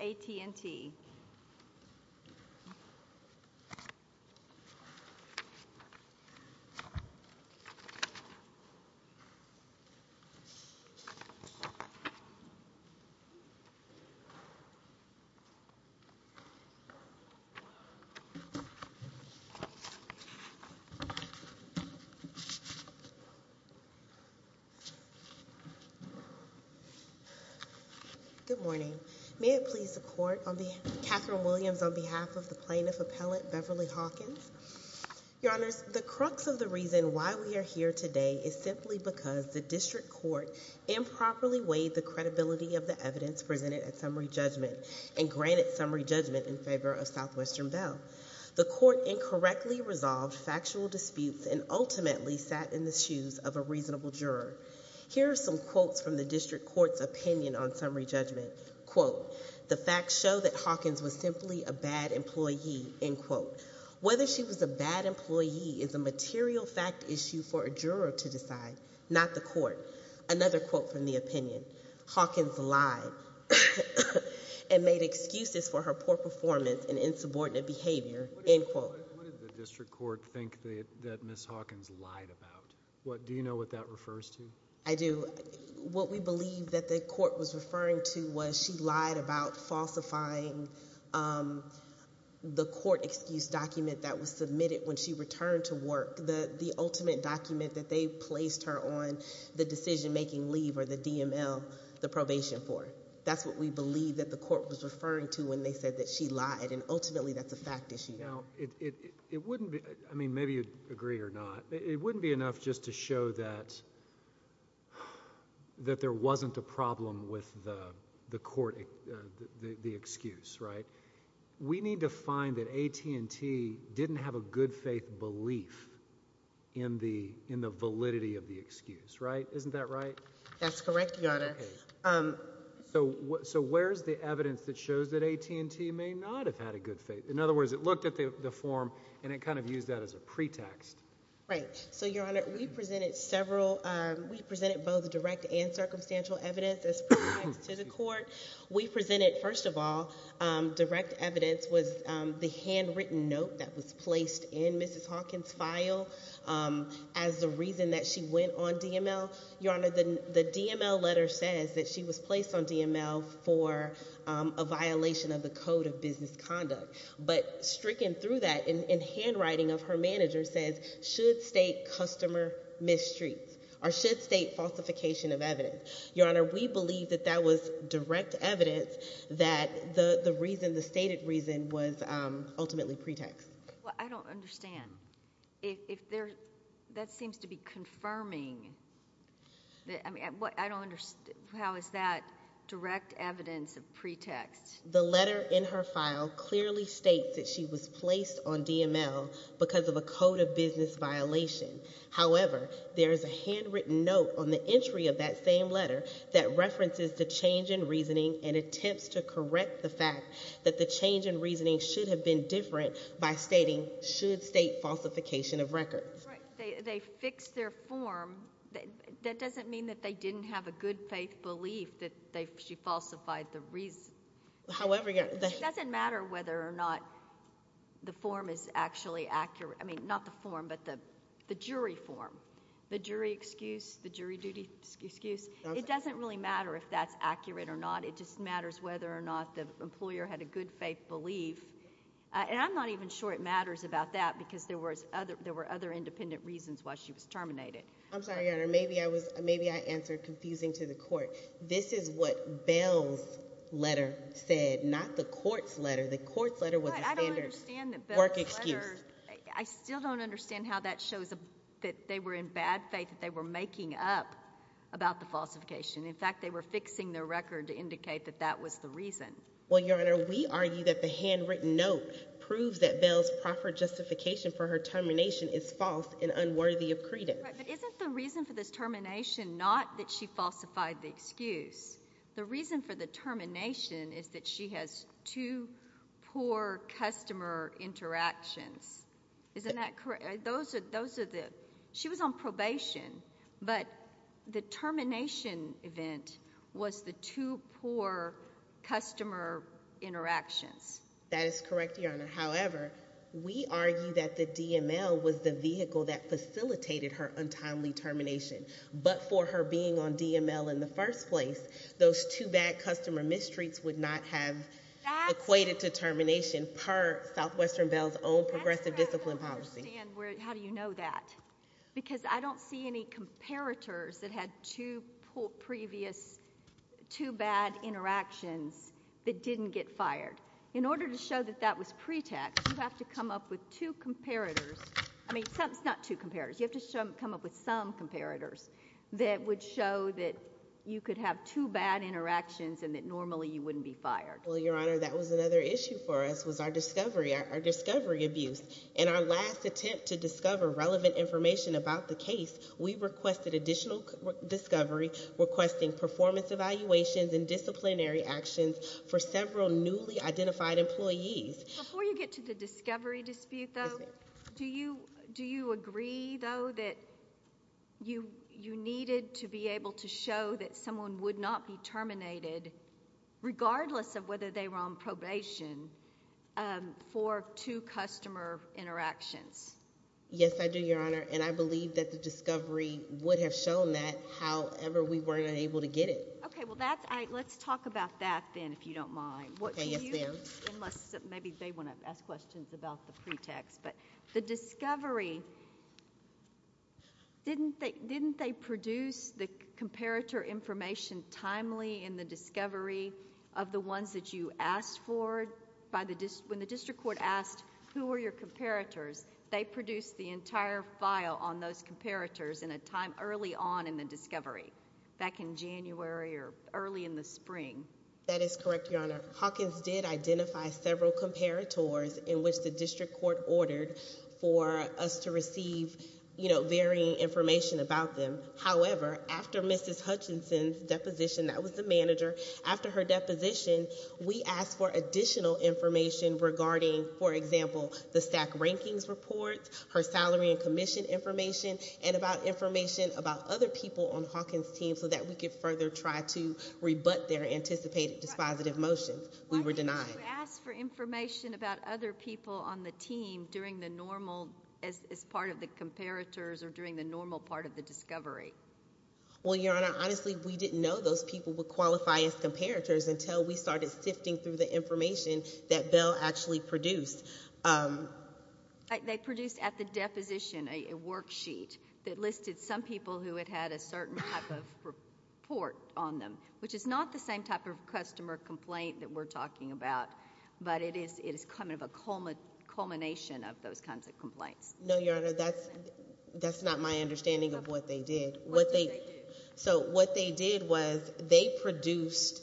AT&T Good morning, may it please the members of the court. I'm Catherine Williams on behalf of the plaintiff appellate Beverly Hawkins. Your honors, the crux of the reason why we are here today is simply because the district court improperly weighed the credibility of the evidence presented at summary judgment and granted summary judgment in favor of Southwestern Bell. The court incorrectly resolved factual disputes and ultimately sat in the shoes of a reasonable juror. Here are some quotes from the district court's opinion on summary judgment. Quote, the facts show that Hawkins was simply a bad employee, end quote. Whether she was a bad employee is a material fact issue for a juror to decide, not the court. Another quote from the opinion, Hawkins lied and made excuses for her poor performance and insubordinate behavior, end quote. What did the district court think that Ms. Hawkins lied about? Do you know what that refers to? I do. What we believe that the court was referring to was she lied about falsifying the court excuse document that was submitted when she returned to work, the ultimate document that they placed her on the decision-making leave or the DML, the probation for. That's what we believe that the court was referring to when they said that she lied, and ultimately that's a fact issue. Now, it wouldn't be, I mean, maybe you'd agree or not, but it wouldn't be enough just to show that there wasn't a problem with the court, the excuse, right? We need to find that AT&T didn't have a good faith belief in the validity of the excuse, right? Isn't that right? That's correct, Your Honor. So where's the evidence that shows that AT&T may not have had a good faith? In other words, it looked at the form and it kind of used that as a pretext. Right. So, Your Honor, we presented several, we presented both direct and circumstantial evidence as pretext to the court. We presented, first of all, direct evidence was the handwritten note that was placed in Mrs. Hawkins' file as the reason that she went on DML. Your Honor, the DML letter says that she was placed on DML for a violation of the code of business conduct, but stricken through that in handwriting of her manager says, should state customer mistreats or should state falsification of evidence. Your Honor, we believe that that was direct evidence that the reason, the stated reason was ultimately pretext. Well, I don't understand. If there, that seems to be confirming, I mean, I don't understand how is that direct evidence of pretext? The letter in her file clearly states that she was placed on DML because of a code of business violation. However, there is a handwritten note on the entry of that same letter that references the change in reasoning and attempts to correct the fact that the change in reasoning should have been different by stating, should state falsification of records. Right. They fixed their form. That doesn't mean that they didn't have a good faith belief that they, she falsified the reason. However, Your Honor, the... It doesn't matter whether or not the form is actually accurate. I mean, not the form, but the jury form, the jury excuse, the jury duty excuse. It doesn't really matter if that's accurate or not. It just matters whether or not the employer had a good faith belief. And I'm not even sure it matters about that because there were other independent reasons why she was terminated. I'm sorry, Your Honor. Maybe I was, maybe I answered confusing to the court. This is what Bell's letter said, not the court's letter. The court's letter was a standard work excuse. I still don't understand how that shows that they were in bad faith, that they were making up about the falsification. In fact, they were fixing their record to indicate that that was the reason. Well, Your Honor, we argue that the handwritten note proves that Bell's proper justification for her termination is false and unworthy of credence. Right, but isn't the reason for this termination not that she falsified the excuse? The reason for the termination is that she has two poor customer interactions. Isn't that correct? Those are the, she was on probation, but the termination event was the two poor customer interactions. That is correct, Your Honor. However, we argue that the DML was the vehicle that facilitated her untimely termination, but for her being on DML in the first place, those two bad customer mistreats would not have equated to termination per Southwestern Bell's own progressive discipline That's where I don't understand, how do you know that? Because I don't see any comparators that had two poor previous, two bad interactions that didn't get fired. In order to show that that was pretext, you have to come up with two comparators. I mean, it's not two comparators. You have to come up with some comparators that would show that you could have two bad interactions and that normally you wouldn't be fired. Well, Your Honor, that was another issue for us, was our discovery, our discovery abuse. In our last attempt to discover relevant information about the case, we requested additional discovery, requesting performance evaluations and disciplinary actions for several newly identified employees. Before you get to the discovery dispute, though, do you agree, though, that you needed to be able to show that someone would not be terminated, regardless of whether they were on probation, for two customer interactions? Yes, I do, Your Honor, and I believe that the discovery would have shown that, however, we weren't able to get it. Okay, well, let's talk about that then, if you don't mind. Okay, yes, ma'am. Unless maybe they want to ask questions about the pretext, but the discovery, didn't they produce the comparator information timely in the discovery of the ones that you asked for when the district court asked, who are your comparators, they produced the entire file on those comparators in a time early on in the discovery, back in January or early in the spring? That is correct, Your Honor. Hawkins did identify several comparators in which the district court ordered for us to receive, you know, varying information about them. However, after Mrs. Hutchinson's deposition, that was the manager, after her deposition, we asked for additional information regarding, for example, the stack rankings report, her salary and commission information, and about information about other people on Hawkins' team so that we could further try to rebut their anticipated dispositive motions. We were denied. Why didn't you ask for information about other people on the team during the normal, as part of the comparators, or during the normal part of the discovery? Well, Your Honor, honestly, we didn't know those people would qualify as comparators until we started sifting through the information that Bell actually produced. They produced at the deposition a worksheet that listed some people who had had a certain type of report on them, which is not the same type of customer complaint that we're talking about, but it is kind of a culmination of those kinds of complaints. No, Your Honor, that's not my understanding of what they did. So what they did was they produced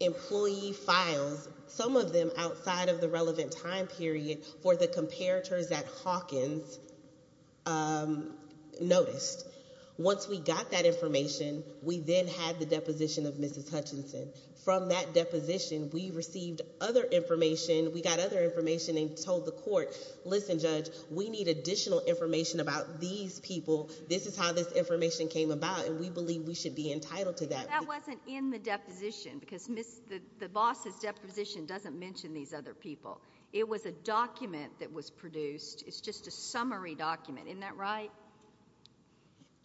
employee files, some of them outside of the relevant time period for the comparators at Hawkins noticed. Once we got that information, we then had the deposition of Mrs. Hutchinson. From that deposition, we received other information, we got other information and told the court, listen, Judge, we need additional information about these people, this is how this information came about, and we believe we should be entitled to that. But that wasn't in the deposition, because the boss's deposition doesn't mention these other people. It was a document that was produced, it's just a summary document, isn't that right?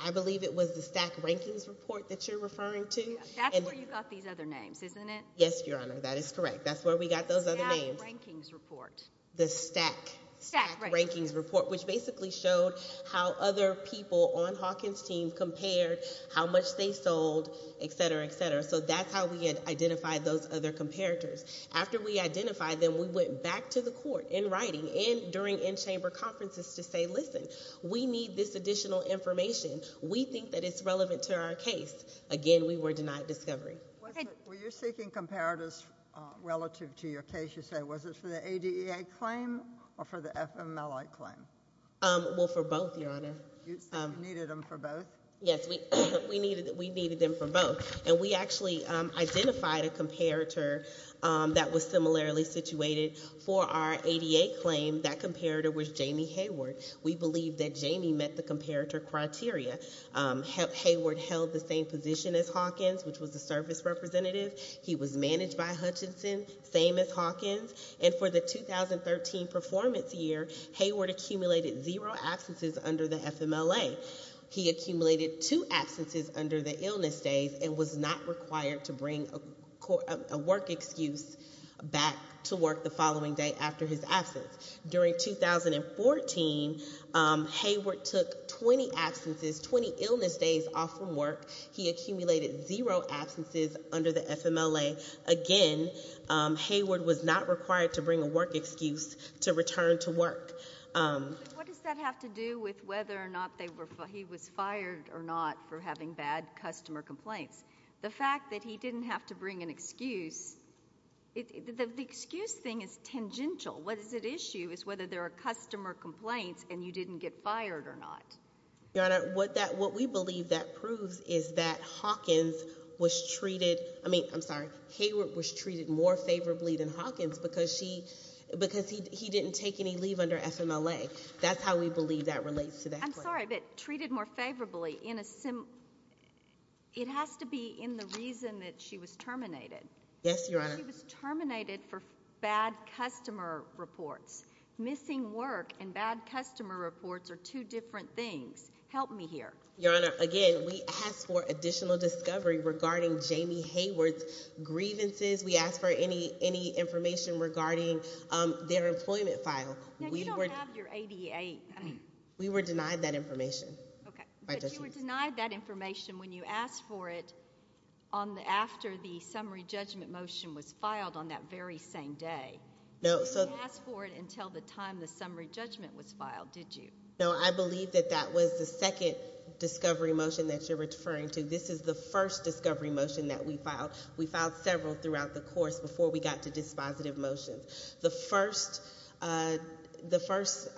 I believe it was the stack rankings report that you're referring to. That's where you got these other names, isn't it? Yes, Your Honor, that is correct. That's where we got those other names. Stack rankings report. The stack. Stack, right. Stack rankings report, which basically showed how other people on Hawkins' team compared how much they sold, etc., etc., so that's how we had identified those other comparators. After we identified them, we went back to the court in writing and during in-chamber conferences to say, listen, we need this additional information, we think that it's relevant to our case. Again, we were denied discovery. Were you seeking comparators relative to your case, you say? Was it for the ADEA claim or for the FMLA claim? Well, for both, Your Honor. You needed them for both? Yes, we needed them for both. And we actually identified a comparator that was similarly situated for our ADEA claim. That comparator was Jamie Hayward. We believe that Jamie met the comparator criteria. Hayward held the same position as Hawkins, which was the service representative. He was managed by Hutchinson, same as Hawkins, and for the 2013 performance year, Hayward accumulated zero absences under the FMLA. He accumulated two absences under the illness days and was not required to bring a work excuse back to work the following day after his absence. During 2014, Hayward took 20 absences, 20 illness days off from work. He accumulated zero absences under the FMLA. Again, Hayward was not required to bring a work excuse to return to work. What does that have to do with whether or not he was fired or not for having bad customer complaints? The fact that he didn't have to bring an excuse, the excuse thing is tangential. What is at issue is whether there are customer complaints and you didn't get fired or not. Your Honor, what we believe that proves is that Hawkins was treated, I mean, I'm sorry, Hayward was treated more favorably than Hawkins because he didn't take any leave under FMLA. That's how we believe that relates to that. I'm sorry, but treated more favorably in a, it has to be in the reason that she was terminated. Yes, Your Honor. She was terminated for bad customer reports. Missing work and bad customer reports are two different things. Help me here. Your Honor, again, we asked for additional discovery regarding Jamie Hayward's grievances. We asked for any information regarding their employment file. Now, you don't have your ADA. We were denied that information. Okay, but you were denied that information when you asked for it after the summary judgment motion was filed on that very same day. No, so. You didn't ask for it until the time the summary judgment was filed, did you? No, I believe that that was the second discovery motion that you're referring to. This is the first discovery motion that we filed. We filed several throughout the course before we got to dispositive motions. The first, the first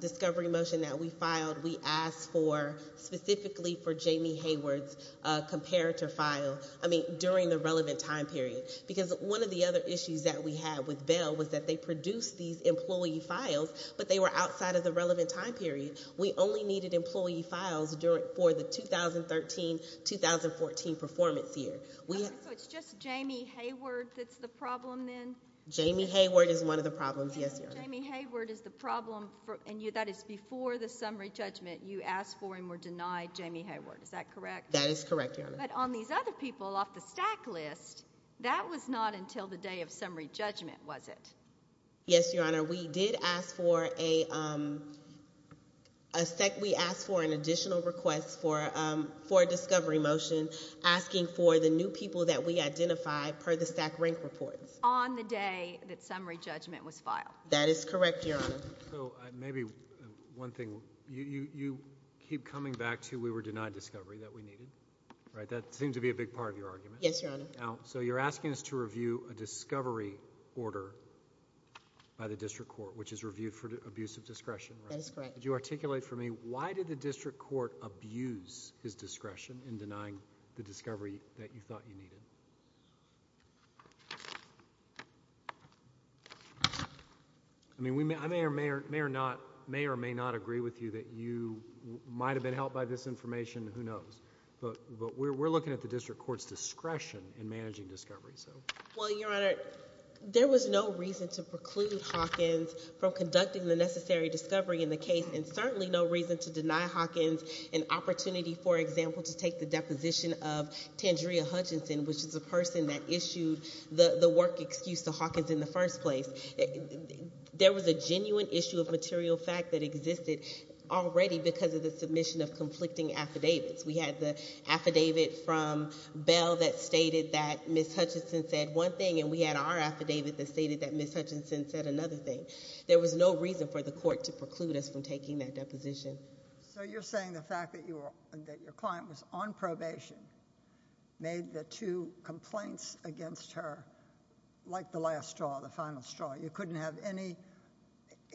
discovery motion that we filed, we asked for, specifically for Jamie Hayward's comparator file, I mean, during the relevant time period. Because one of the other issues that we had with Bell was that they produced these employee files, but they were outside of the relevant time period. We only needed employee files during, for the 2013-2014 performance year. Okay, so it's just Jamie Hayward that's the problem then? Jamie Hayward is one of the problems, yes, Your Honor. Jamie Hayward is the problem for, and you, that is before the summary judgment, you asked for and were denied Jamie Hayward. Is that correct? That is correct, Your Honor. But on these other people off the stack list, that was not until the day of summary judgment, was it? Yes, Your Honor. We did ask for a, a sec, we asked for an additional request for, for a discovery motion asking for the new people that we identified per the stack rank reports. On the day that summary judgment was filed? That is correct, Your Honor. So, maybe, one thing, you, you, you keep coming back to we were denied discovery that we needed, right? That seems to be a big part of your argument. Yes, Your Honor. Now, so you're asking us to review a discovery order by the district court, which is reviewed for abuse of discretion, right? That is correct. Could you articulate for me, why did the district court abuse his discretion in denying the discovery that you thought you needed? I mean, we may, I may or may, may or not, may or may not agree with you that you might have been helped by this information, who knows, but, but we're, we're looking at the case and managing discovery, so. Well, Your Honor, there was no reason to preclude Hawkins from conducting the necessary discovery in the case and certainly no reason to deny Hawkins an opportunity, for example, to take the deposition of Tandrea Hutchinson, which is the person that issued the, the work excuse to Hawkins in the first place. There was a genuine issue of material fact that existed already because of the submission of conflicting affidavits. We had the affidavit from Bell that stated that Ms. Hutchinson said one thing and we had our affidavit that stated that Ms. Hutchinson said another thing. There was no reason for the court to preclude us from taking that deposition. So you're saying the fact that you were, that your client was on probation, made the two complaints against her, like the last straw, the final straw. You couldn't have any,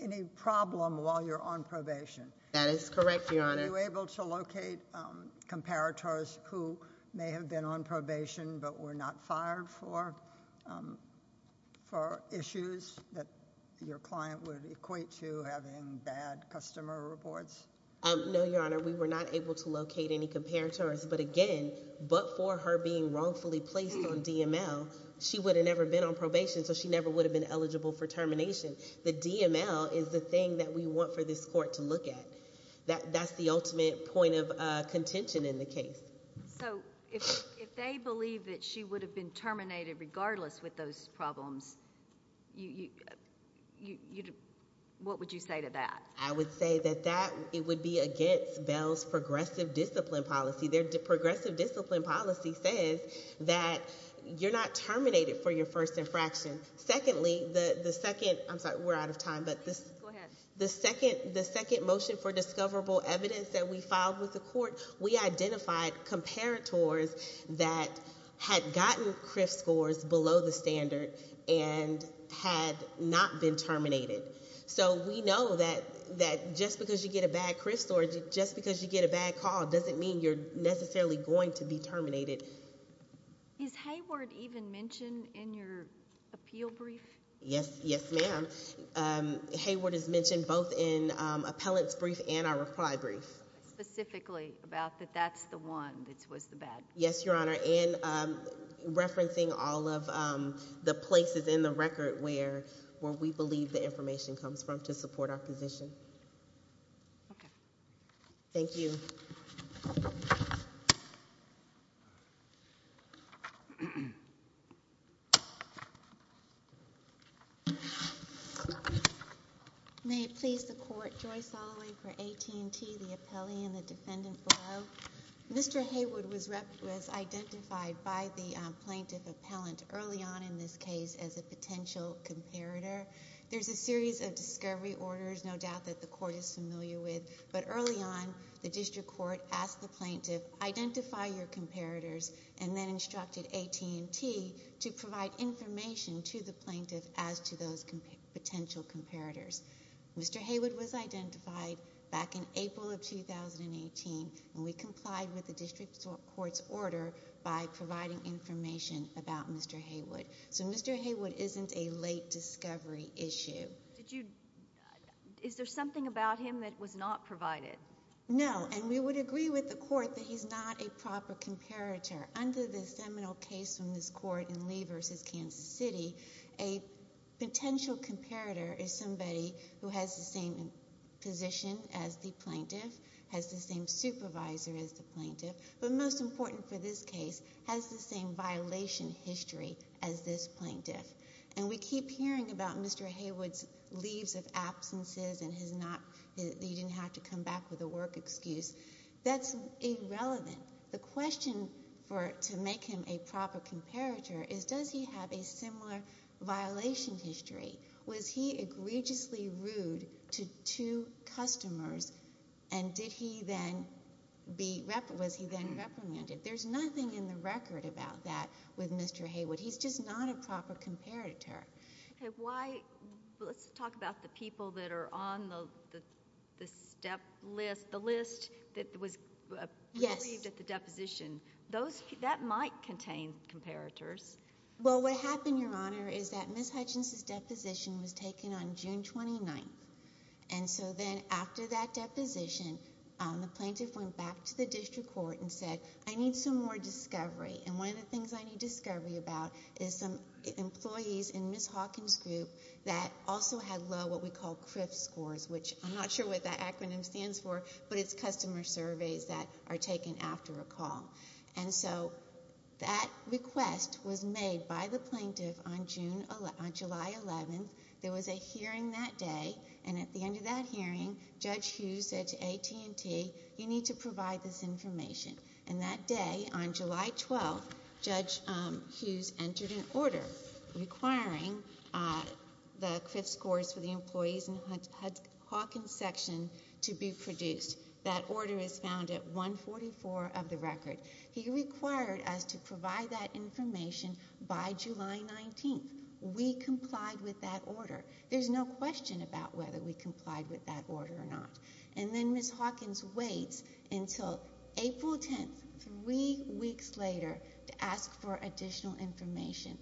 any problem while you're on probation. That is correct, Your Honor. Were you able to locate comparators who may have been on probation but were not fired for, um, for issues that your client would equate to having bad customer reports? Um, no, Your Honor, we were not able to locate any comparators, but again, but for her being wrongfully placed on DML, she would have never been on probation, so she never would have been eligible for termination. The DML is the thing that we want for this court to look at. That, that's the ultimate point of, uh, contention in the case. So if, if they believe that she would have been terminated regardless with those problems, you, you, you, what would you say to that? I would say that that, it would be against Bell's progressive discipline policy. Their progressive discipline policy says that you're not terminated for your first infraction. Secondly, the, the second, I'm sorry, we're out of time, but this, the second, the second motion for discoverable evidence that we filed with the court, we identified comparators that had gotten CRF scores below the standard and had not been terminated. So we know that, that just because you get a bad CRF score, just because you get a bad call doesn't mean you're necessarily going to be terminated. Is Hayward even mentioned in your appeal brief? Yes. Yes, ma'am. So, um, Hayward is mentioned both in, um, appellant's brief and our reply brief. Specifically about that that's the one that was the bad. Yes, Your Honor. And, um, referencing all of, um, the places in the record where, where we believe the information comes from to support our position. Okay. Thank you. May it please the court, Joyce Holloway for AT&T, the appellee and the defendant below. Mr. Hayward was identified by the, um, plaintiff appellant early on in this case as a potential comparator. There's a series of discovery orders, no doubt that the court is familiar with, but early on, the district court asked the plaintiff, identify your comparators, and then instructed AT&T to provide information to the plaintiff as to those potential comparators. Mr. Hayward was identified back in April of 2018, and we complied with the district court's order by providing information about Mr. Hayward. So, Mr. Hayward isn't a late discovery issue. Did you, is there something about him that was not provided? No, and we would agree with the court that he's not a proper comparator. Under the seminal case from this court in Lee v. Kansas City, a potential comparator is somebody who has the same position as the plaintiff, has the same supervisor as the plaintiff, but most important for this case, has the same violation history as this plaintiff. And we keep hearing about Mr. Hayward's leaves of absences and his not, he didn't have to come back with a work excuse. That's irrelevant. The question for, to make him a proper comparator is, does he have a similar violation history? Was he egregiously rude to two customers, and did he then be, was he then reprimanded? There's nothing in the record about that with Mr. Hayward. He's just not a proper comparator. Why, let's talk about the people that are on the, the step list, the list that was believed at the deposition. Those, that might contain comparators. Well, what happened, Your Honor, is that Ms. Hutchins' deposition was taken on June 29th, and so then after that deposition, the plaintiff went back to the district court and said, I need some more discovery. And one of the things I need discovery about is some employees in Ms. Hawkins' group that also had low, what we call, CRF scores, which I'm not sure what that acronym stands for, but it's customer surveys that are taken after a call. And so, that request was made by the plaintiff on June, on July 11th. There was a hearing that day, and at the end of that hearing, Judge Hughes said to AT&T, you need to provide this information. And that day, on July 12th, Judge Hughes entered an order requiring the CRF scores for the employees in the Hawkins section to be produced. That order is found at 144 of the record. He required us to provide that information by July 19th. We complied with that order. There's no question about whether we complied with that order or not. And then Ms. Hawkins waits until April 10th, three weeks later, to ask for additional information.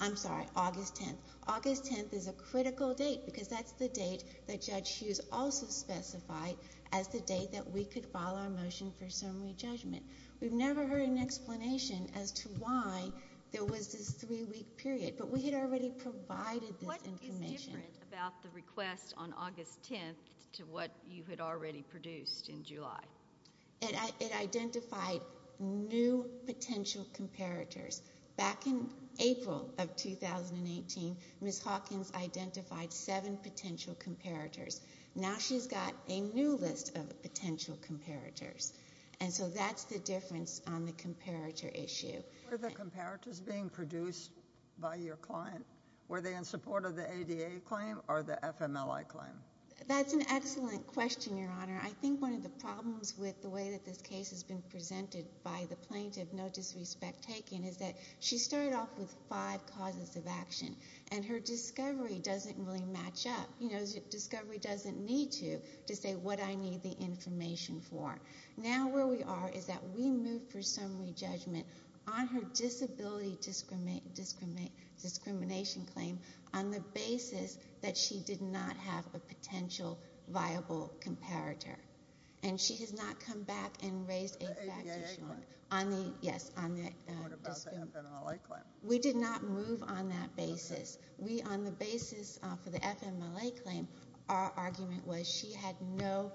I'm sorry, August 10th. August 10th is a critical date, because that's the date that Judge Hughes also specified as the date that we could file our motion for summary judgment. We've never heard an explanation as to why there was this three week period. But we had already provided this information. What was different about the request on August 10th to what you had already produced in July? It identified new potential comparators. Back in April of 2018, Ms. Hawkins identified seven potential comparators. Now she's got a new list of potential comparators. And so that's the difference on the comparator issue. Were the comparators being produced by your client? Were they in support of the ADA claim or the FMLI claim? That's an excellent question, Your Honor. I think one of the problems with the way that this case has been presented by the plaintiff, no disrespect taken, is that she started off with five causes of action. And her discovery doesn't really match up. You know, discovery doesn't need to, to say what I need the information for. Now where we are is that we moved for summary judgment on her disability discrimination claim on the basis that she did not have a potential viable comparator. And she has not come back and raised a fact issue on the, yes, on the. What about the FMLA claim? We did not move on that basis. We, on the basis for the FMLA claim, our argument was she had no,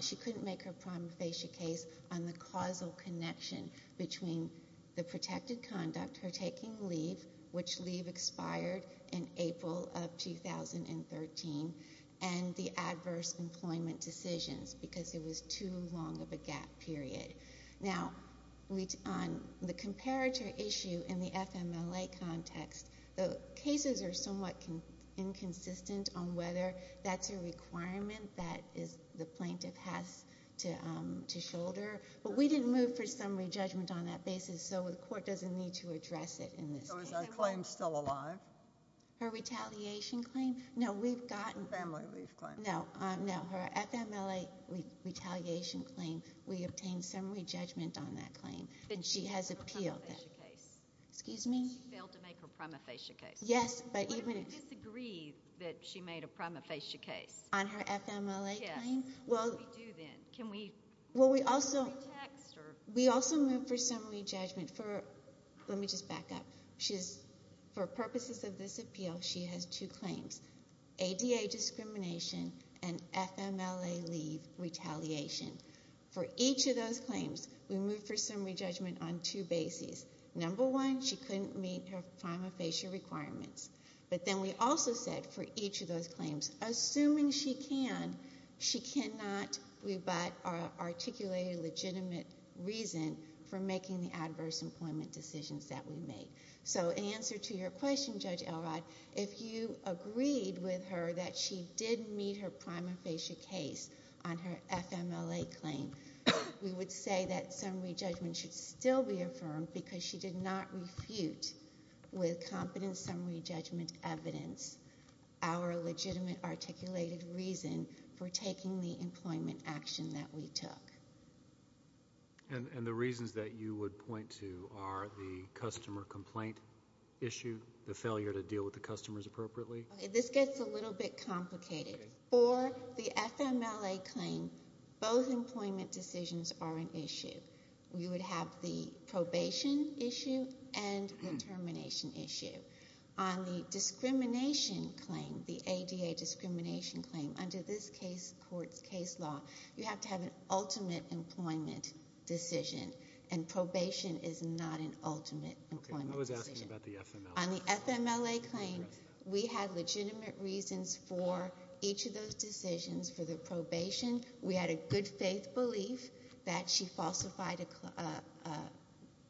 she couldn't make her prima facie case on the causal connection between the protected conduct, her taking leave, which leave expired in April of 2013, and the adverse employment decisions because it was too long of a gap period. Now, we, on the comparator issue in the FMLA context, the cases are somewhat inconsistent on whether that's a requirement that the plaintiff has to shoulder. But we didn't move for summary judgment on that basis, so the court doesn't need to address it in this case. So is her claim still alive? Her retaliation claim? No, we've gotten- Family leave claim. No, no, her FMLA retaliation claim, we obtained summary judgment on that claim. And she has appealed that case. Excuse me? She failed to make her prima facie case. Yes, but even- What if we disagree that she made a prima facie case? On her FMLA claim? Yes. What do we do then? Can we- Well, we also- Text or- We also moved for summary judgment for, let me just back up. She's, for purposes of this appeal, she has two claims. ADA discrimination and FMLA leave retaliation. For each of those claims, we moved for summary judgment on two bases. Number one, she couldn't meet her prima facie requirements. But then we also said for each of those claims, assuming she can, she cannot rebut or articulate a legitimate reason for making the adverse employment decisions that we made. So in answer to your question, Judge Elrod, if you agreed with her that she didn't meet her prima facie case on her FMLA claim, we would say that summary judgment should still be affirmed because she did not refute with competent summary judgment evidence our legitimate articulated reason for taking the employment action that we took. And the reasons that you would point to are the customer complaint issue, the failure to deal with the customers appropriately? Okay, this gets a little bit complicated. For the FMLA claim, both employment decisions are an issue. We would have the probation issue and the termination issue. On the discrimination claim, the ADA discrimination claim, under this case court's case law, you have to have an ultimate employment decision and probation is not an ultimate employment decision. Okay, I was asking about the FMLA. On the termination claim, we had legitimate reasons for each of those decisions for the probation. We had a good faith belief that she falsified a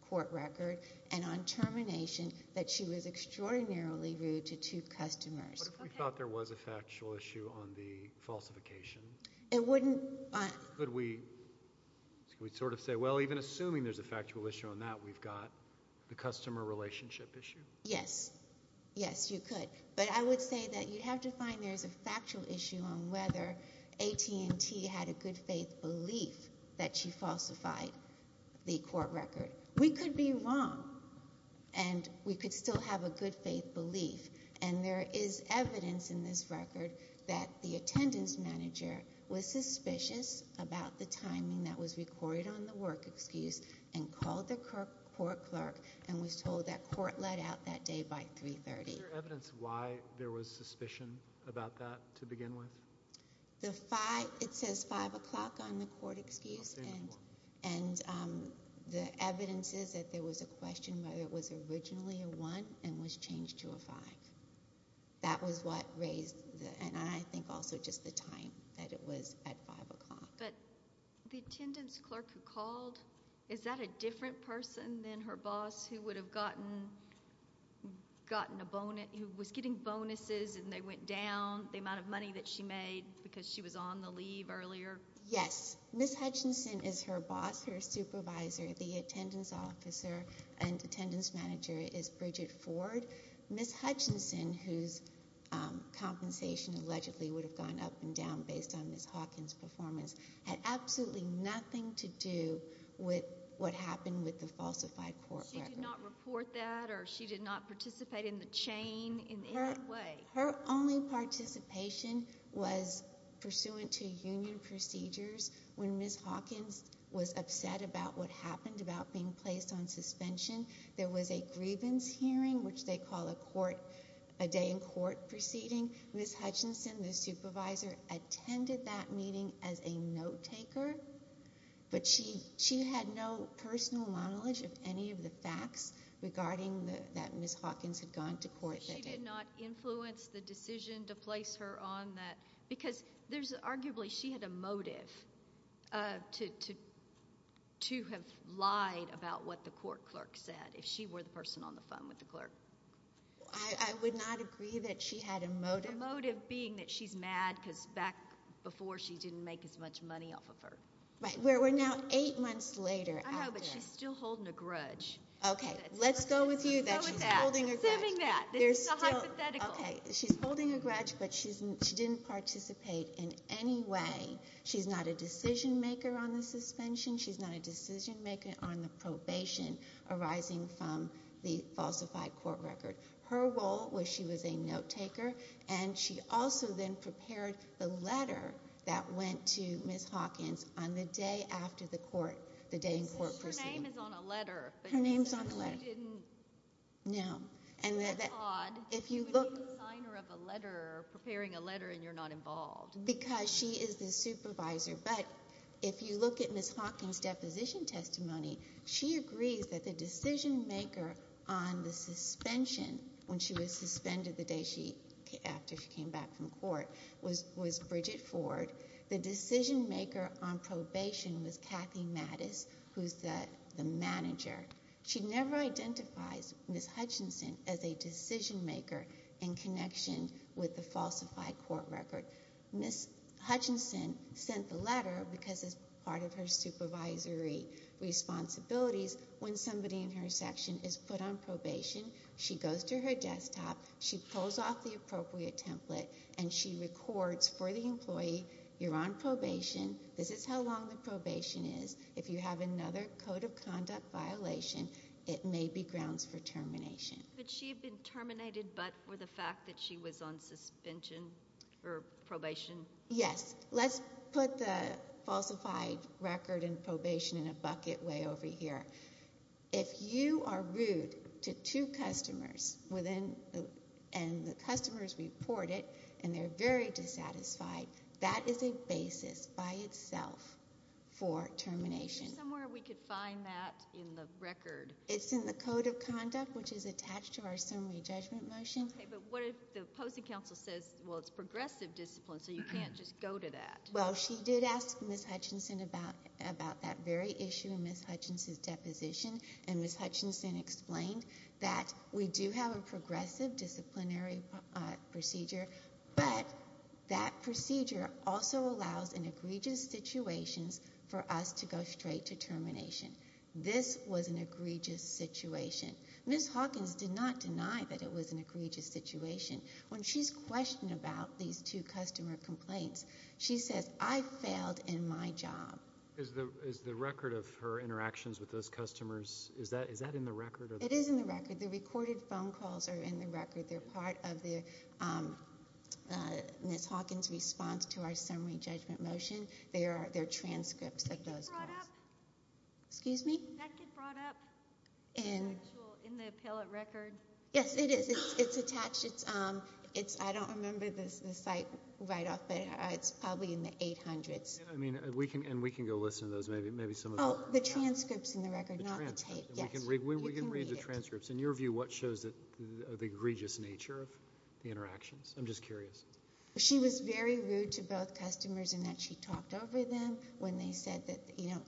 court record and on termination that she was extraordinarily rude to two customers. What if we thought there was a factual issue on the falsification? It wouldn't... Could we sort of say, well, even assuming there's a factual issue on that, we've got the customer relationship issue? Yes. Yes, you could. But I would say that you have to find there's a factual issue on whether AT&T had a good faith belief that she falsified the court record. We could be wrong and we could still have a good faith belief and there is evidence in this record that the attendance manager was suspicious about the timing that was recorded on the work excuse and called the court clerk and was told that court let out that day by 3.30. Is there evidence why there was suspicion about that to begin with? The five... It says 5 o'clock on the court excuse and the evidence is that there was a question whether it was originally a one and was changed to a five. That was what raised, and I think also just the time, that it was at 5 o'clock. But the attendance clerk who called, is that a different person than her boss who would have gotten a bonus... who was getting bonuses and they went down, the amount of money that she made because she was on the leave earlier? Yes. Ms. Hutchinson is her boss, her supervisor. The attendance officer and attendance manager is Bridget Ford. Ms. Hutchinson, whose compensation allegedly would have gone up and down based on Ms. Hawkins' performance, had absolutely nothing to do with what happened with the falsified court record. She did not report that or she did not participate in the chain in any way? Her only participation was pursuant to union procedures. When Ms. Hawkins was upset about what happened, about being placed on suspension, there was a grievance hearing, which they call a court... a day in court proceeding. Ms. Hutchinson, the supervisor, attended that meeting as a note-taker, but she had no personal knowledge of any of the facts regarding that Ms. Hawkins had gone to court that day. But she did not influence the decision to place her on that? Because there's arguably... she had a motive to have lied about what the court clerk said, if she were the person on the phone with the clerk. I would not agree that she had a motive. A motive being that she's mad because back before, she didn't make as much money off of her. Right. We're now eight months later after. I know, but she's still holding a grudge. OK. Let's go with you that she's holding a grudge. Let's go with that. Let's assume that. This is not hypothetical. OK. She's holding a grudge, but she didn't participate in any way. She's not a decision-maker on the suspension. She's not a decision-maker on the probation arising from the falsified court record. Her role was she was a note-taker, and she also then prepared the letter that went to Ms. Hawkins on the day after the court, the day in court proceeded. Your name is on a letter. Her name's on a letter. But you didn't... No. That's odd. If you look... You would be the signer of a letter, or preparing a letter, and you're not involved. Because she is the supervisor. But if you look at Ms. Hawkins' deposition testimony, she agrees that the decision-maker on the suspension, when she was suspended the day after she came back from court, was Bridget Ford. The decision-maker on probation was Kathy Mattis, who's the manager. She never identifies Ms. Hutchinson as a decision-maker in connection with the falsified court record. Ms. Hutchinson sent the letter because it's part of her supervisory responsibilities. When somebody in her section is put on probation, she goes to her desktop, she pulls off the appropriate template, and she records for the employee, you're on probation, this is how long the probation is. If you have another code of conduct violation, it may be grounds for termination. But she had been terminated, but for the fact that she was on suspension, or probation? Yes. Let's put the falsified record and probation in a bucket way over here. If you are rude to two customers, and the customers report it, and they're very dissatisfied, that is a basis by itself for termination. Somewhere we could find that in the record. It's in the code of conduct, which is attached to our summary judgment motion. OK, but what if the opposing counsel says, well, it's progressive discipline, so you can't just go to that? Well, she did ask Ms. Hutchinson about that very issue in Ms. Hutchinson's deposition, and Ms. Hutchinson explained that we do have a progressive disciplinary procedure, but that procedure also allows in egregious situations for us to go straight to termination. This was an egregious situation. Ms. Hawkins did not deny that it was an egregious situation. When she's questioned about these two customer complaints, she says, I failed in my job. Is the record of her interactions with those customers, is that in the record? It is in the record. The recorded phone calls are in the record. They're part of Ms. Hawkins' response to our summary judgment motion. They're transcripts of those calls. Did that get brought up? Excuse me? Did that get brought up in the appellate record? Yes, it is. It's attached. I don't remember the site right off, but it's probably in the 800s. And we can go listen to those, maybe some of them. Oh, the transcripts in the record, not the tape. The transcripts. We can read the transcripts. In your view, what shows the egregious nature of the interactions? I'm just curious. She was very rude to both customers in that she talked over them when they said that, you know...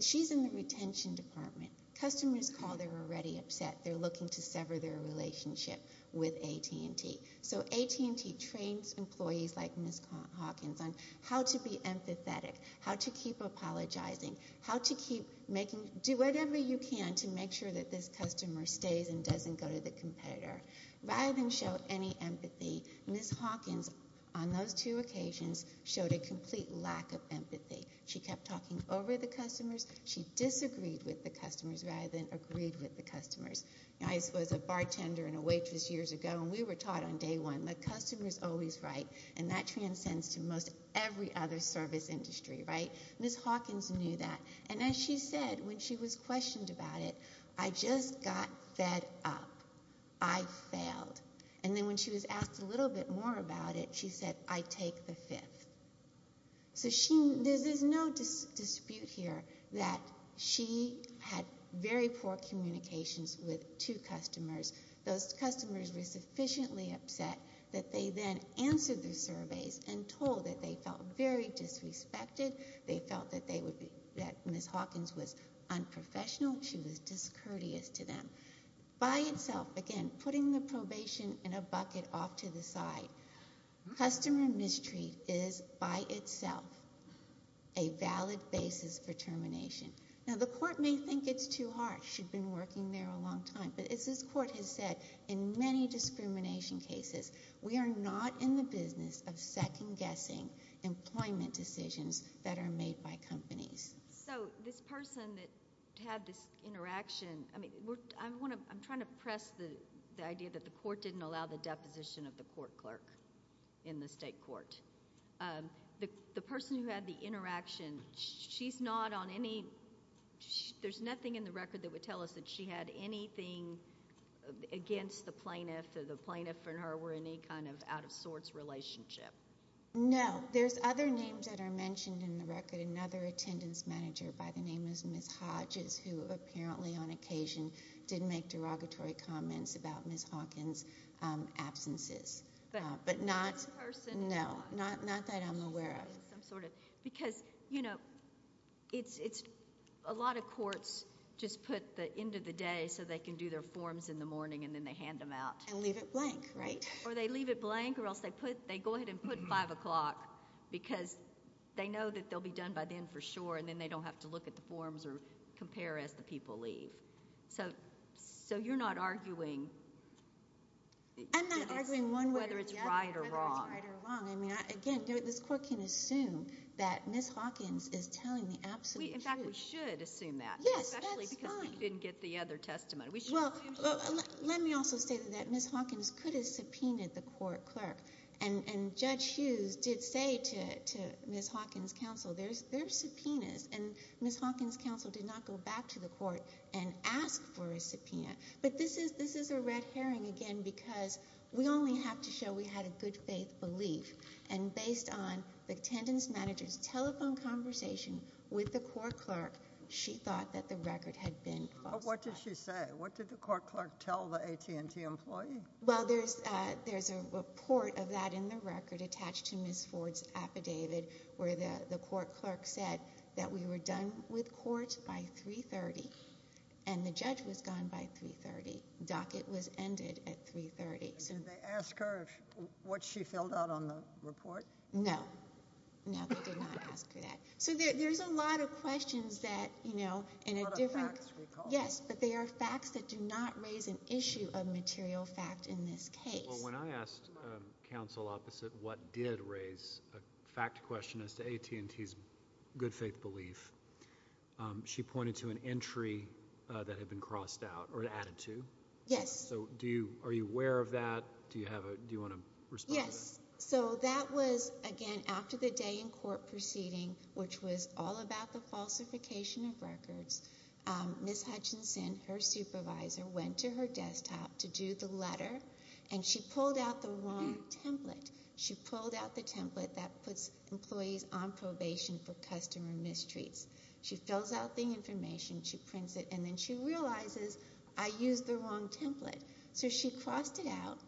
She's in the retention department. Customers call, they're already upset. They're looking to sever their relationship with AT&T. So AT&T trains employees like Ms. Hawkins on how to be empathetic, how to keep apologizing, how to keep making... Do whatever you can to make sure that this customer stays and doesn't go to the competitor. Rather than show any empathy, Ms. Hawkins, on those two occasions, showed a complete lack of empathy. She kept talking over the customers. She disagreed with the customers rather than agreed with the customers. I was a bartender and a waitress years ago, and we were taught on day one, the customer's always right, and that transcends to most every other service industry, right? Ms. Hawkins knew that. And as she said, when she was questioned about it, I just got fed up. I failed. And then when she was asked a little bit more about it, she said, I take the fifth. So there's no dispute here that she had very poor communications with two customers. Those customers were sufficiently upset that they then answered the surveys and told that they felt very disrespected, they felt that Ms. Hawkins was unprofessional, she was discourteous to them. By itself, again, putting the probation in a bucket off to the side, customer mistreat is by itself a valid basis for termination. Now, the court may think it's too harsh. She'd been working there a long time. But as this court has said in many discrimination cases, we are not in the business of second-guessing employment decisions that are made by companies. So this person that had this interaction, I'm trying to press the idea that the court didn't allow the deposition of the court clerk. in the state court. The person who had the interaction, she's not on any... There's nothing in the record that would tell us that she had anything against the plaintiff, or the plaintiff and her were in any kind of out-of-sorts relationship. No. There's other names that are mentioned in the record, another attendance manager by the name of Ms. Hodges, who apparently on occasion did make derogatory comments about Ms. Hawkins' absences. But not... No, not that I'm aware of. Because, you know, it's... A lot of courts just put the end of the day so they can do their forms in the morning and then they hand them out. And leave it blank, right? Or they leave it blank or else they go ahead and put 5 o'clock because they know that they'll be done by then for sure and then they don't have to look at the forms or compare as the people leave. So you're not arguing... I'm not arguing one way or the other. Whether it's right or wrong. Whether it's right or wrong. I mean, again, this court can assume that Ms. Hawkins is telling the absolute truth. In fact, we should assume that. Yes, that's fine. Especially because we didn't get the other testimony. Well, let me also say that Ms. Hawkins could have subpoenaed the court clerk. And Judge Hughes did say to Ms. Hawkins' counsel, there's subpoenas, and Ms. Hawkins' counsel did not go back to the court and ask for a subpoena. But this is a red herring again because we only have to show we had a good faith belief. And based on the attendance manager's telephone conversation with the court clerk, she thought that the record had been falsified. But what did she say? What did the court clerk tell the AT&T employee? Well, there's a report of that in the record attached to Ms. Ford's affidavit where the court clerk said that we were done with court by 3.30 and the judge was gone by 3.30. Docket was ended at 3.30. And did they ask her what she filled out on the report? No. No, they did not ask her that. So there's a lot of questions that, you know, in a different... A lot of facts, recall. Yes, but they are facts that do not raise an issue of material fact in this case. Well, when I asked counsel opposite what did raise a fact question as to AT&T's good faith belief, she pointed to an entry that had been crossed out or added to. Yes. So are you aware of that? Do you want to respond to that? Yes. So that was, again, after the day in court proceeding, which was all about the falsification of records, Ms. Hutchinson, her supervisor, went to her desktop to do the letter, and she pulled out the wrong template. She pulled out the template that puts employees on probation for customer mistreats. She fills out the information. She prints it. And then she realizes, I used the wrong template. So she crossed it out,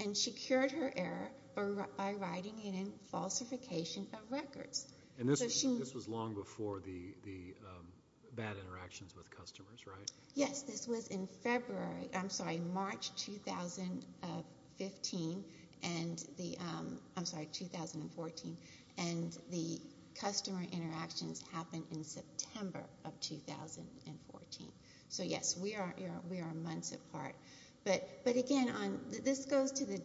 and she cured her error by writing it in falsification of records. And this was long before the bad interactions with customers, right? Yes. This was in February. I'm sorry, March 2015. I'm sorry, 2014. And the customer interactions happened in September of 2014. So, yes, we are months apart. But, again, this goes to the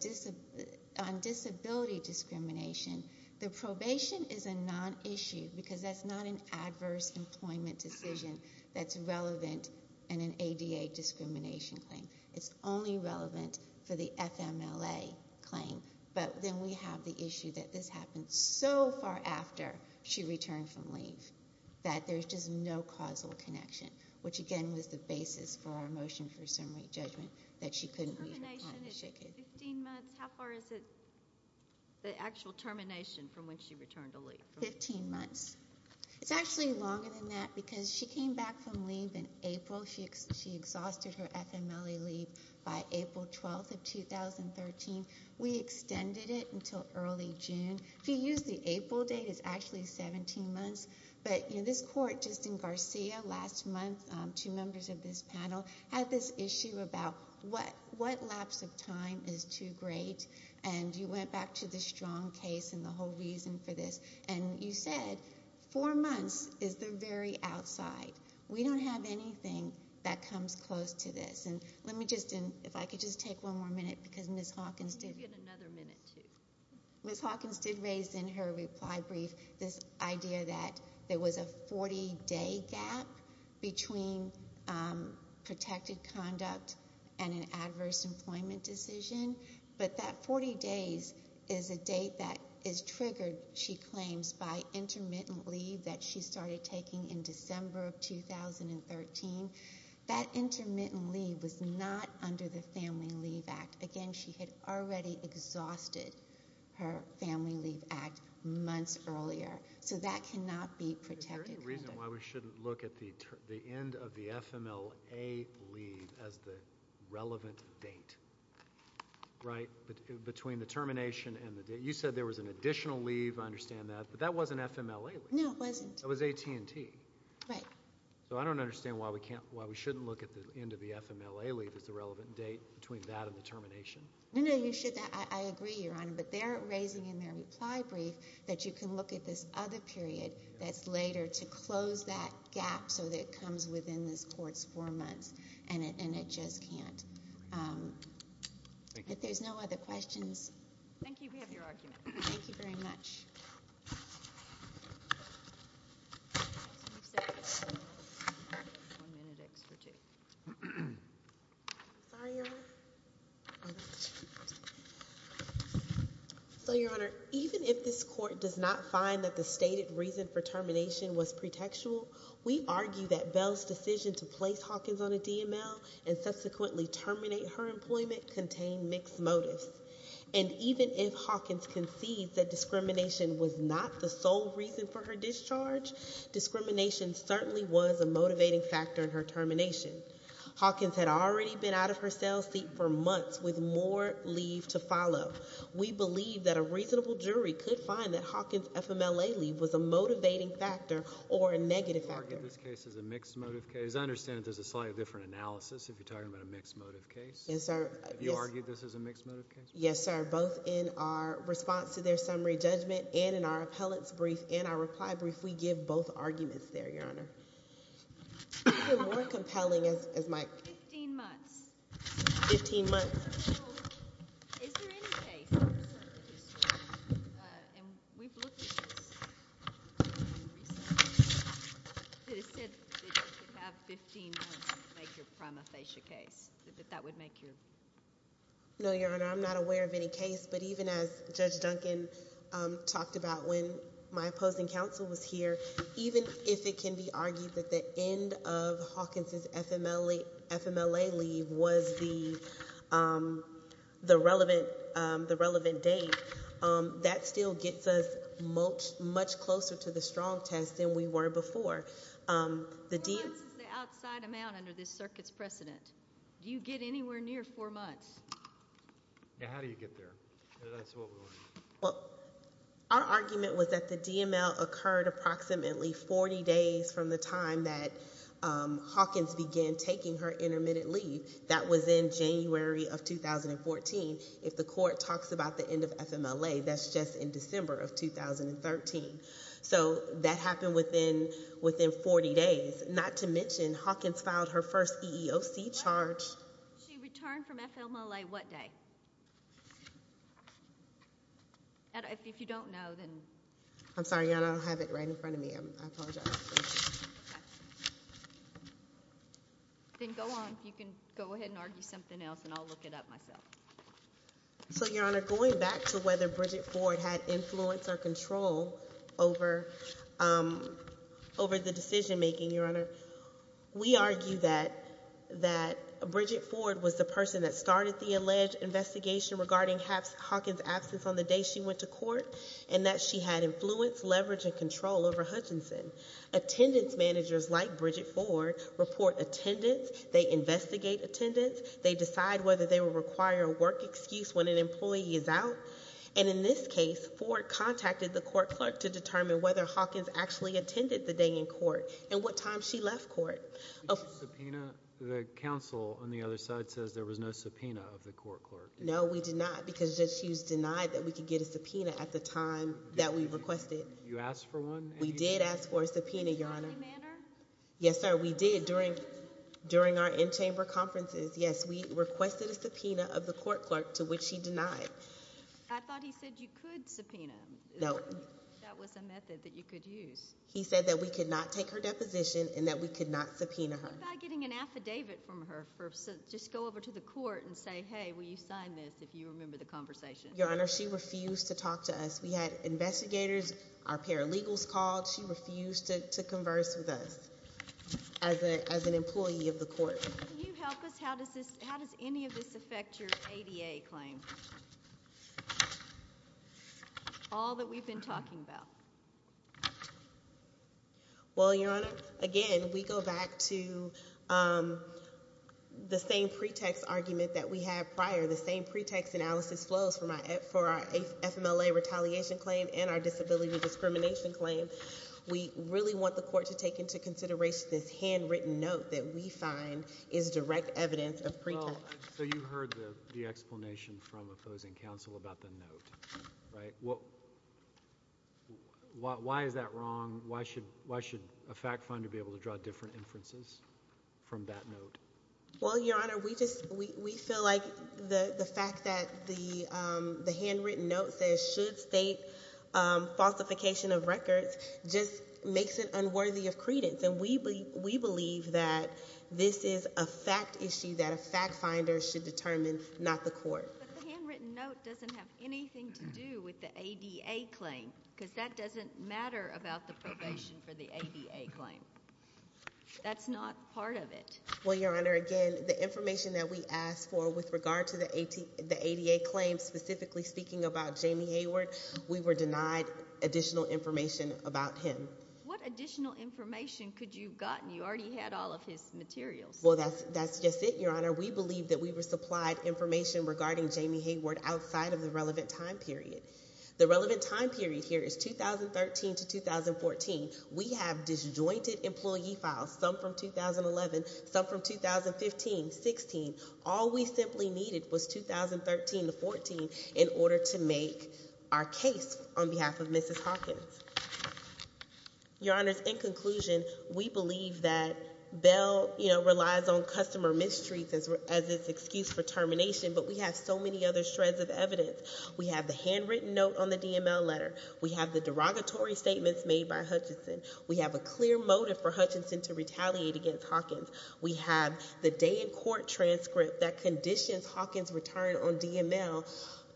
disability discrimination. The probation is a non-issue, because that's not an adverse employment decision that's relevant in an ADA discrimination claim. It's only relevant for the FMLA claim. But then we have the issue that this happened so far after she returned from leave that there's just no causal connection, which, again, was the basis for our motion for summary judgment that she couldn't leave her client. The termination is 15 months. How far is it, the actual termination from when she returned to leave? Fifteen months. It's actually longer than that, because she came back from leave in April. She exhausted her FMLA leave by April 12th of 2013. We extended it until early June. If you use the April date, it's actually 17 months. But this court, just in Garcia, last month, two members of this panel, had this issue about what lapse of time is too great. And you went back to the strong case and the whole reason for this, and you said four months is the very outside. We don't have anything that comes close to this. And let me just, if I could just take one more minute, because Ms. Hawkins did raise in her reply brief this idea that there was a 40-day gap between protected conduct and an adverse employment decision. But that 40 days is a date that is triggered, she claims, by intermittent leave that she started taking in December of 2013. That intermittent leave was not under the Family Leave Act. Again, she had already exhausted her Family Leave Act months earlier. So that cannot be protected conduct. Is there any reason why we shouldn't look at the end of the FMLA leave as the relevant date, right, between the termination and the date? You said there was an additional leave. I understand that. But that wasn't FMLA leave. No, it wasn't. It was AT&T. Right. So I don't understand why we shouldn't look at the end of the FMLA leave as the relevant date No, no, you should. I agree, Your Honor. But they're raising in their reply brief that you can look at this other period that's later to close that gap so that it comes within this Court's four months. And it just can't. If there's no other questions. Thank you. We have your argument. Thank you very much. So, Your Honor, even if this Court does not find that the stated reason for termination was pretextual, we argue that Bell's decision to place Hawkins on a DML and subsequently terminate her employment contain mixed motives. And even if Hawkins concedes that discrimination was not the sole reason for her discharge, discrimination certainly was a motivating factor in her termination. Hawkins had already been out of her cell seat for months with more leave to follow. We believe that a reasonable jury could find that Hawkins' FMLA leave was a motivating factor or a negative factor. You argue this case as a mixed motive case. I understand that there's a slightly different analysis if you're talking about a mixed motive case. Yes, sir. Have you argued this as a mixed motive case? Yes, sir. Both in our response to their summary judgment and in our appellate's brief and our reply brief, we give both arguments there, Your Honor. Even more compelling is Mike. Fifteen months. Fifteen months. Is there any case in the circuit history, and we've looked at this recently, that has said that you could have 15 months to make your prima facie case, that that would make your? No, Your Honor. I'm not aware of any case. But even as Judge Duncan talked about when my opposing counsel was here, even if it can be argued that the end of Hawkins' FMLA leave was the relevant date, that still gets us much closer to the strong test than we were before. Four months is the outside amount under this circuit's precedent. Do you get anywhere near four months? How do you get there? Well, our argument was that the DML occurred approximately 40 days from the time that Hawkins began taking her intermittent leave. That was in January of 2014. If the court talks about the end of FMLA, that's just in December of 2013. So that happened within 40 days, not to mention Hawkins filed her first EEOC charge. She returned from FMLA what day? If you don't know, then. I'm sorry, Your Honor. I don't have it right in front of me. I apologize. Then go on. You can go ahead and argue something else, and I'll look it up myself. So, Your Honor, going back to whether Bridget Ford had influence or control over the decision making, Your Honor, we argue that Bridget Ford was the person that started the alleged investigation regarding Hawkins' absence on the day she went to court and that she had influence, leverage, and control over Hutchinson. Attendance managers like Bridget Ford report attendance. They investigate attendance. They decide whether they will require a work excuse when an employee is out. And in this case, Ford contacted the court clerk to determine whether Hawkins actually attended the day in court and what time she left court. Did you subpoena? The counsel on the other side says there was no subpoena of the court clerk. No, we did not because she was denied that we could get a subpoena at the time that we requested. You asked for one? We did ask for a subpoena, Your Honor. In any manner? Yes, sir, we did during our in-chamber conferences. Yes, we requested a subpoena of the court clerk to which she denied. I thought he said you could subpoena. No. That was a method that you could use. He said that we could not take her deposition and that we could not subpoena her. What about getting an affidavit from her? Just go over to the court and say, hey, will you sign this if you remember the conversation? Your Honor, she refused to talk to us. We had investigators, our paralegals called. She refused to converse with us as an employee of the court. Can you help us? How does any of this affect your ADA claim? All that we've been talking about. Well, Your Honor, again, we go back to the same pretext argument that we had prior, the same pretext analysis flows for our FMLA retaliation claim and our disability discrimination claim. We really want the court to take into consideration this handwritten note that we find is direct evidence of pretext. So you heard the explanation from opposing counsel about the note, right? Why is that wrong? Why should a fact finder be able to draw different inferences from that note? Well, Your Honor, we feel like the fact that the handwritten note says should state falsification of records just makes it unworthy of credence. And we believe that this is a fact issue that a fact finder should determine, not the court. But the handwritten note doesn't have anything to do with the ADA claim because that doesn't matter about the probation for the ADA claim. That's not part of it. Well, Your Honor, again, the information that we asked for with regard to the ADA claim, specifically speaking about Jamie Hayward, we were denied additional information about him. What additional information could you have gotten? You already had all of his materials. Well, that's just it, Your Honor. We believe that we were supplied information regarding Jamie Hayward outside of the relevant time period. The relevant time period here is 2013 to 2014. We have disjointed employee files, some from 2011, some from 2015, 16. All we simply needed was 2013 to 14 in order to make our case on behalf of Mrs. Hawkins. Your Honor, in conclusion, we believe that Bell relies on customer mistreatment as its excuse for termination, but we have so many other shreds of evidence. We have the handwritten note on the DML letter. We have the derogatory statements made by Hutchinson. We have a clear motive for Hutchinson to retaliate against Hawkins. We have the day in court transcript that conditions Hawkins' return on DML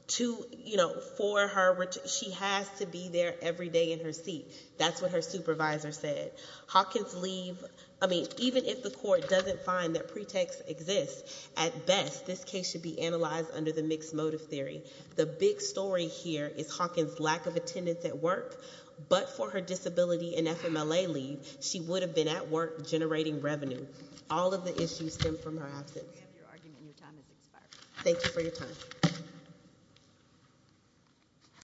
to, you know, for her, she has to be there every day in her seat. That's what her supervisor said. Hawkins leave, I mean, even if the court doesn't find that pretext exists, at best, this case should be analyzed under the mixed motive theory. The big story here is Hawkins' lack of attendance at work, but for her disability and FMLA leave, she would have been at work generating revenue. All of the issues stem from her absence. We have your argument. Your time has expired. Thank you for your time.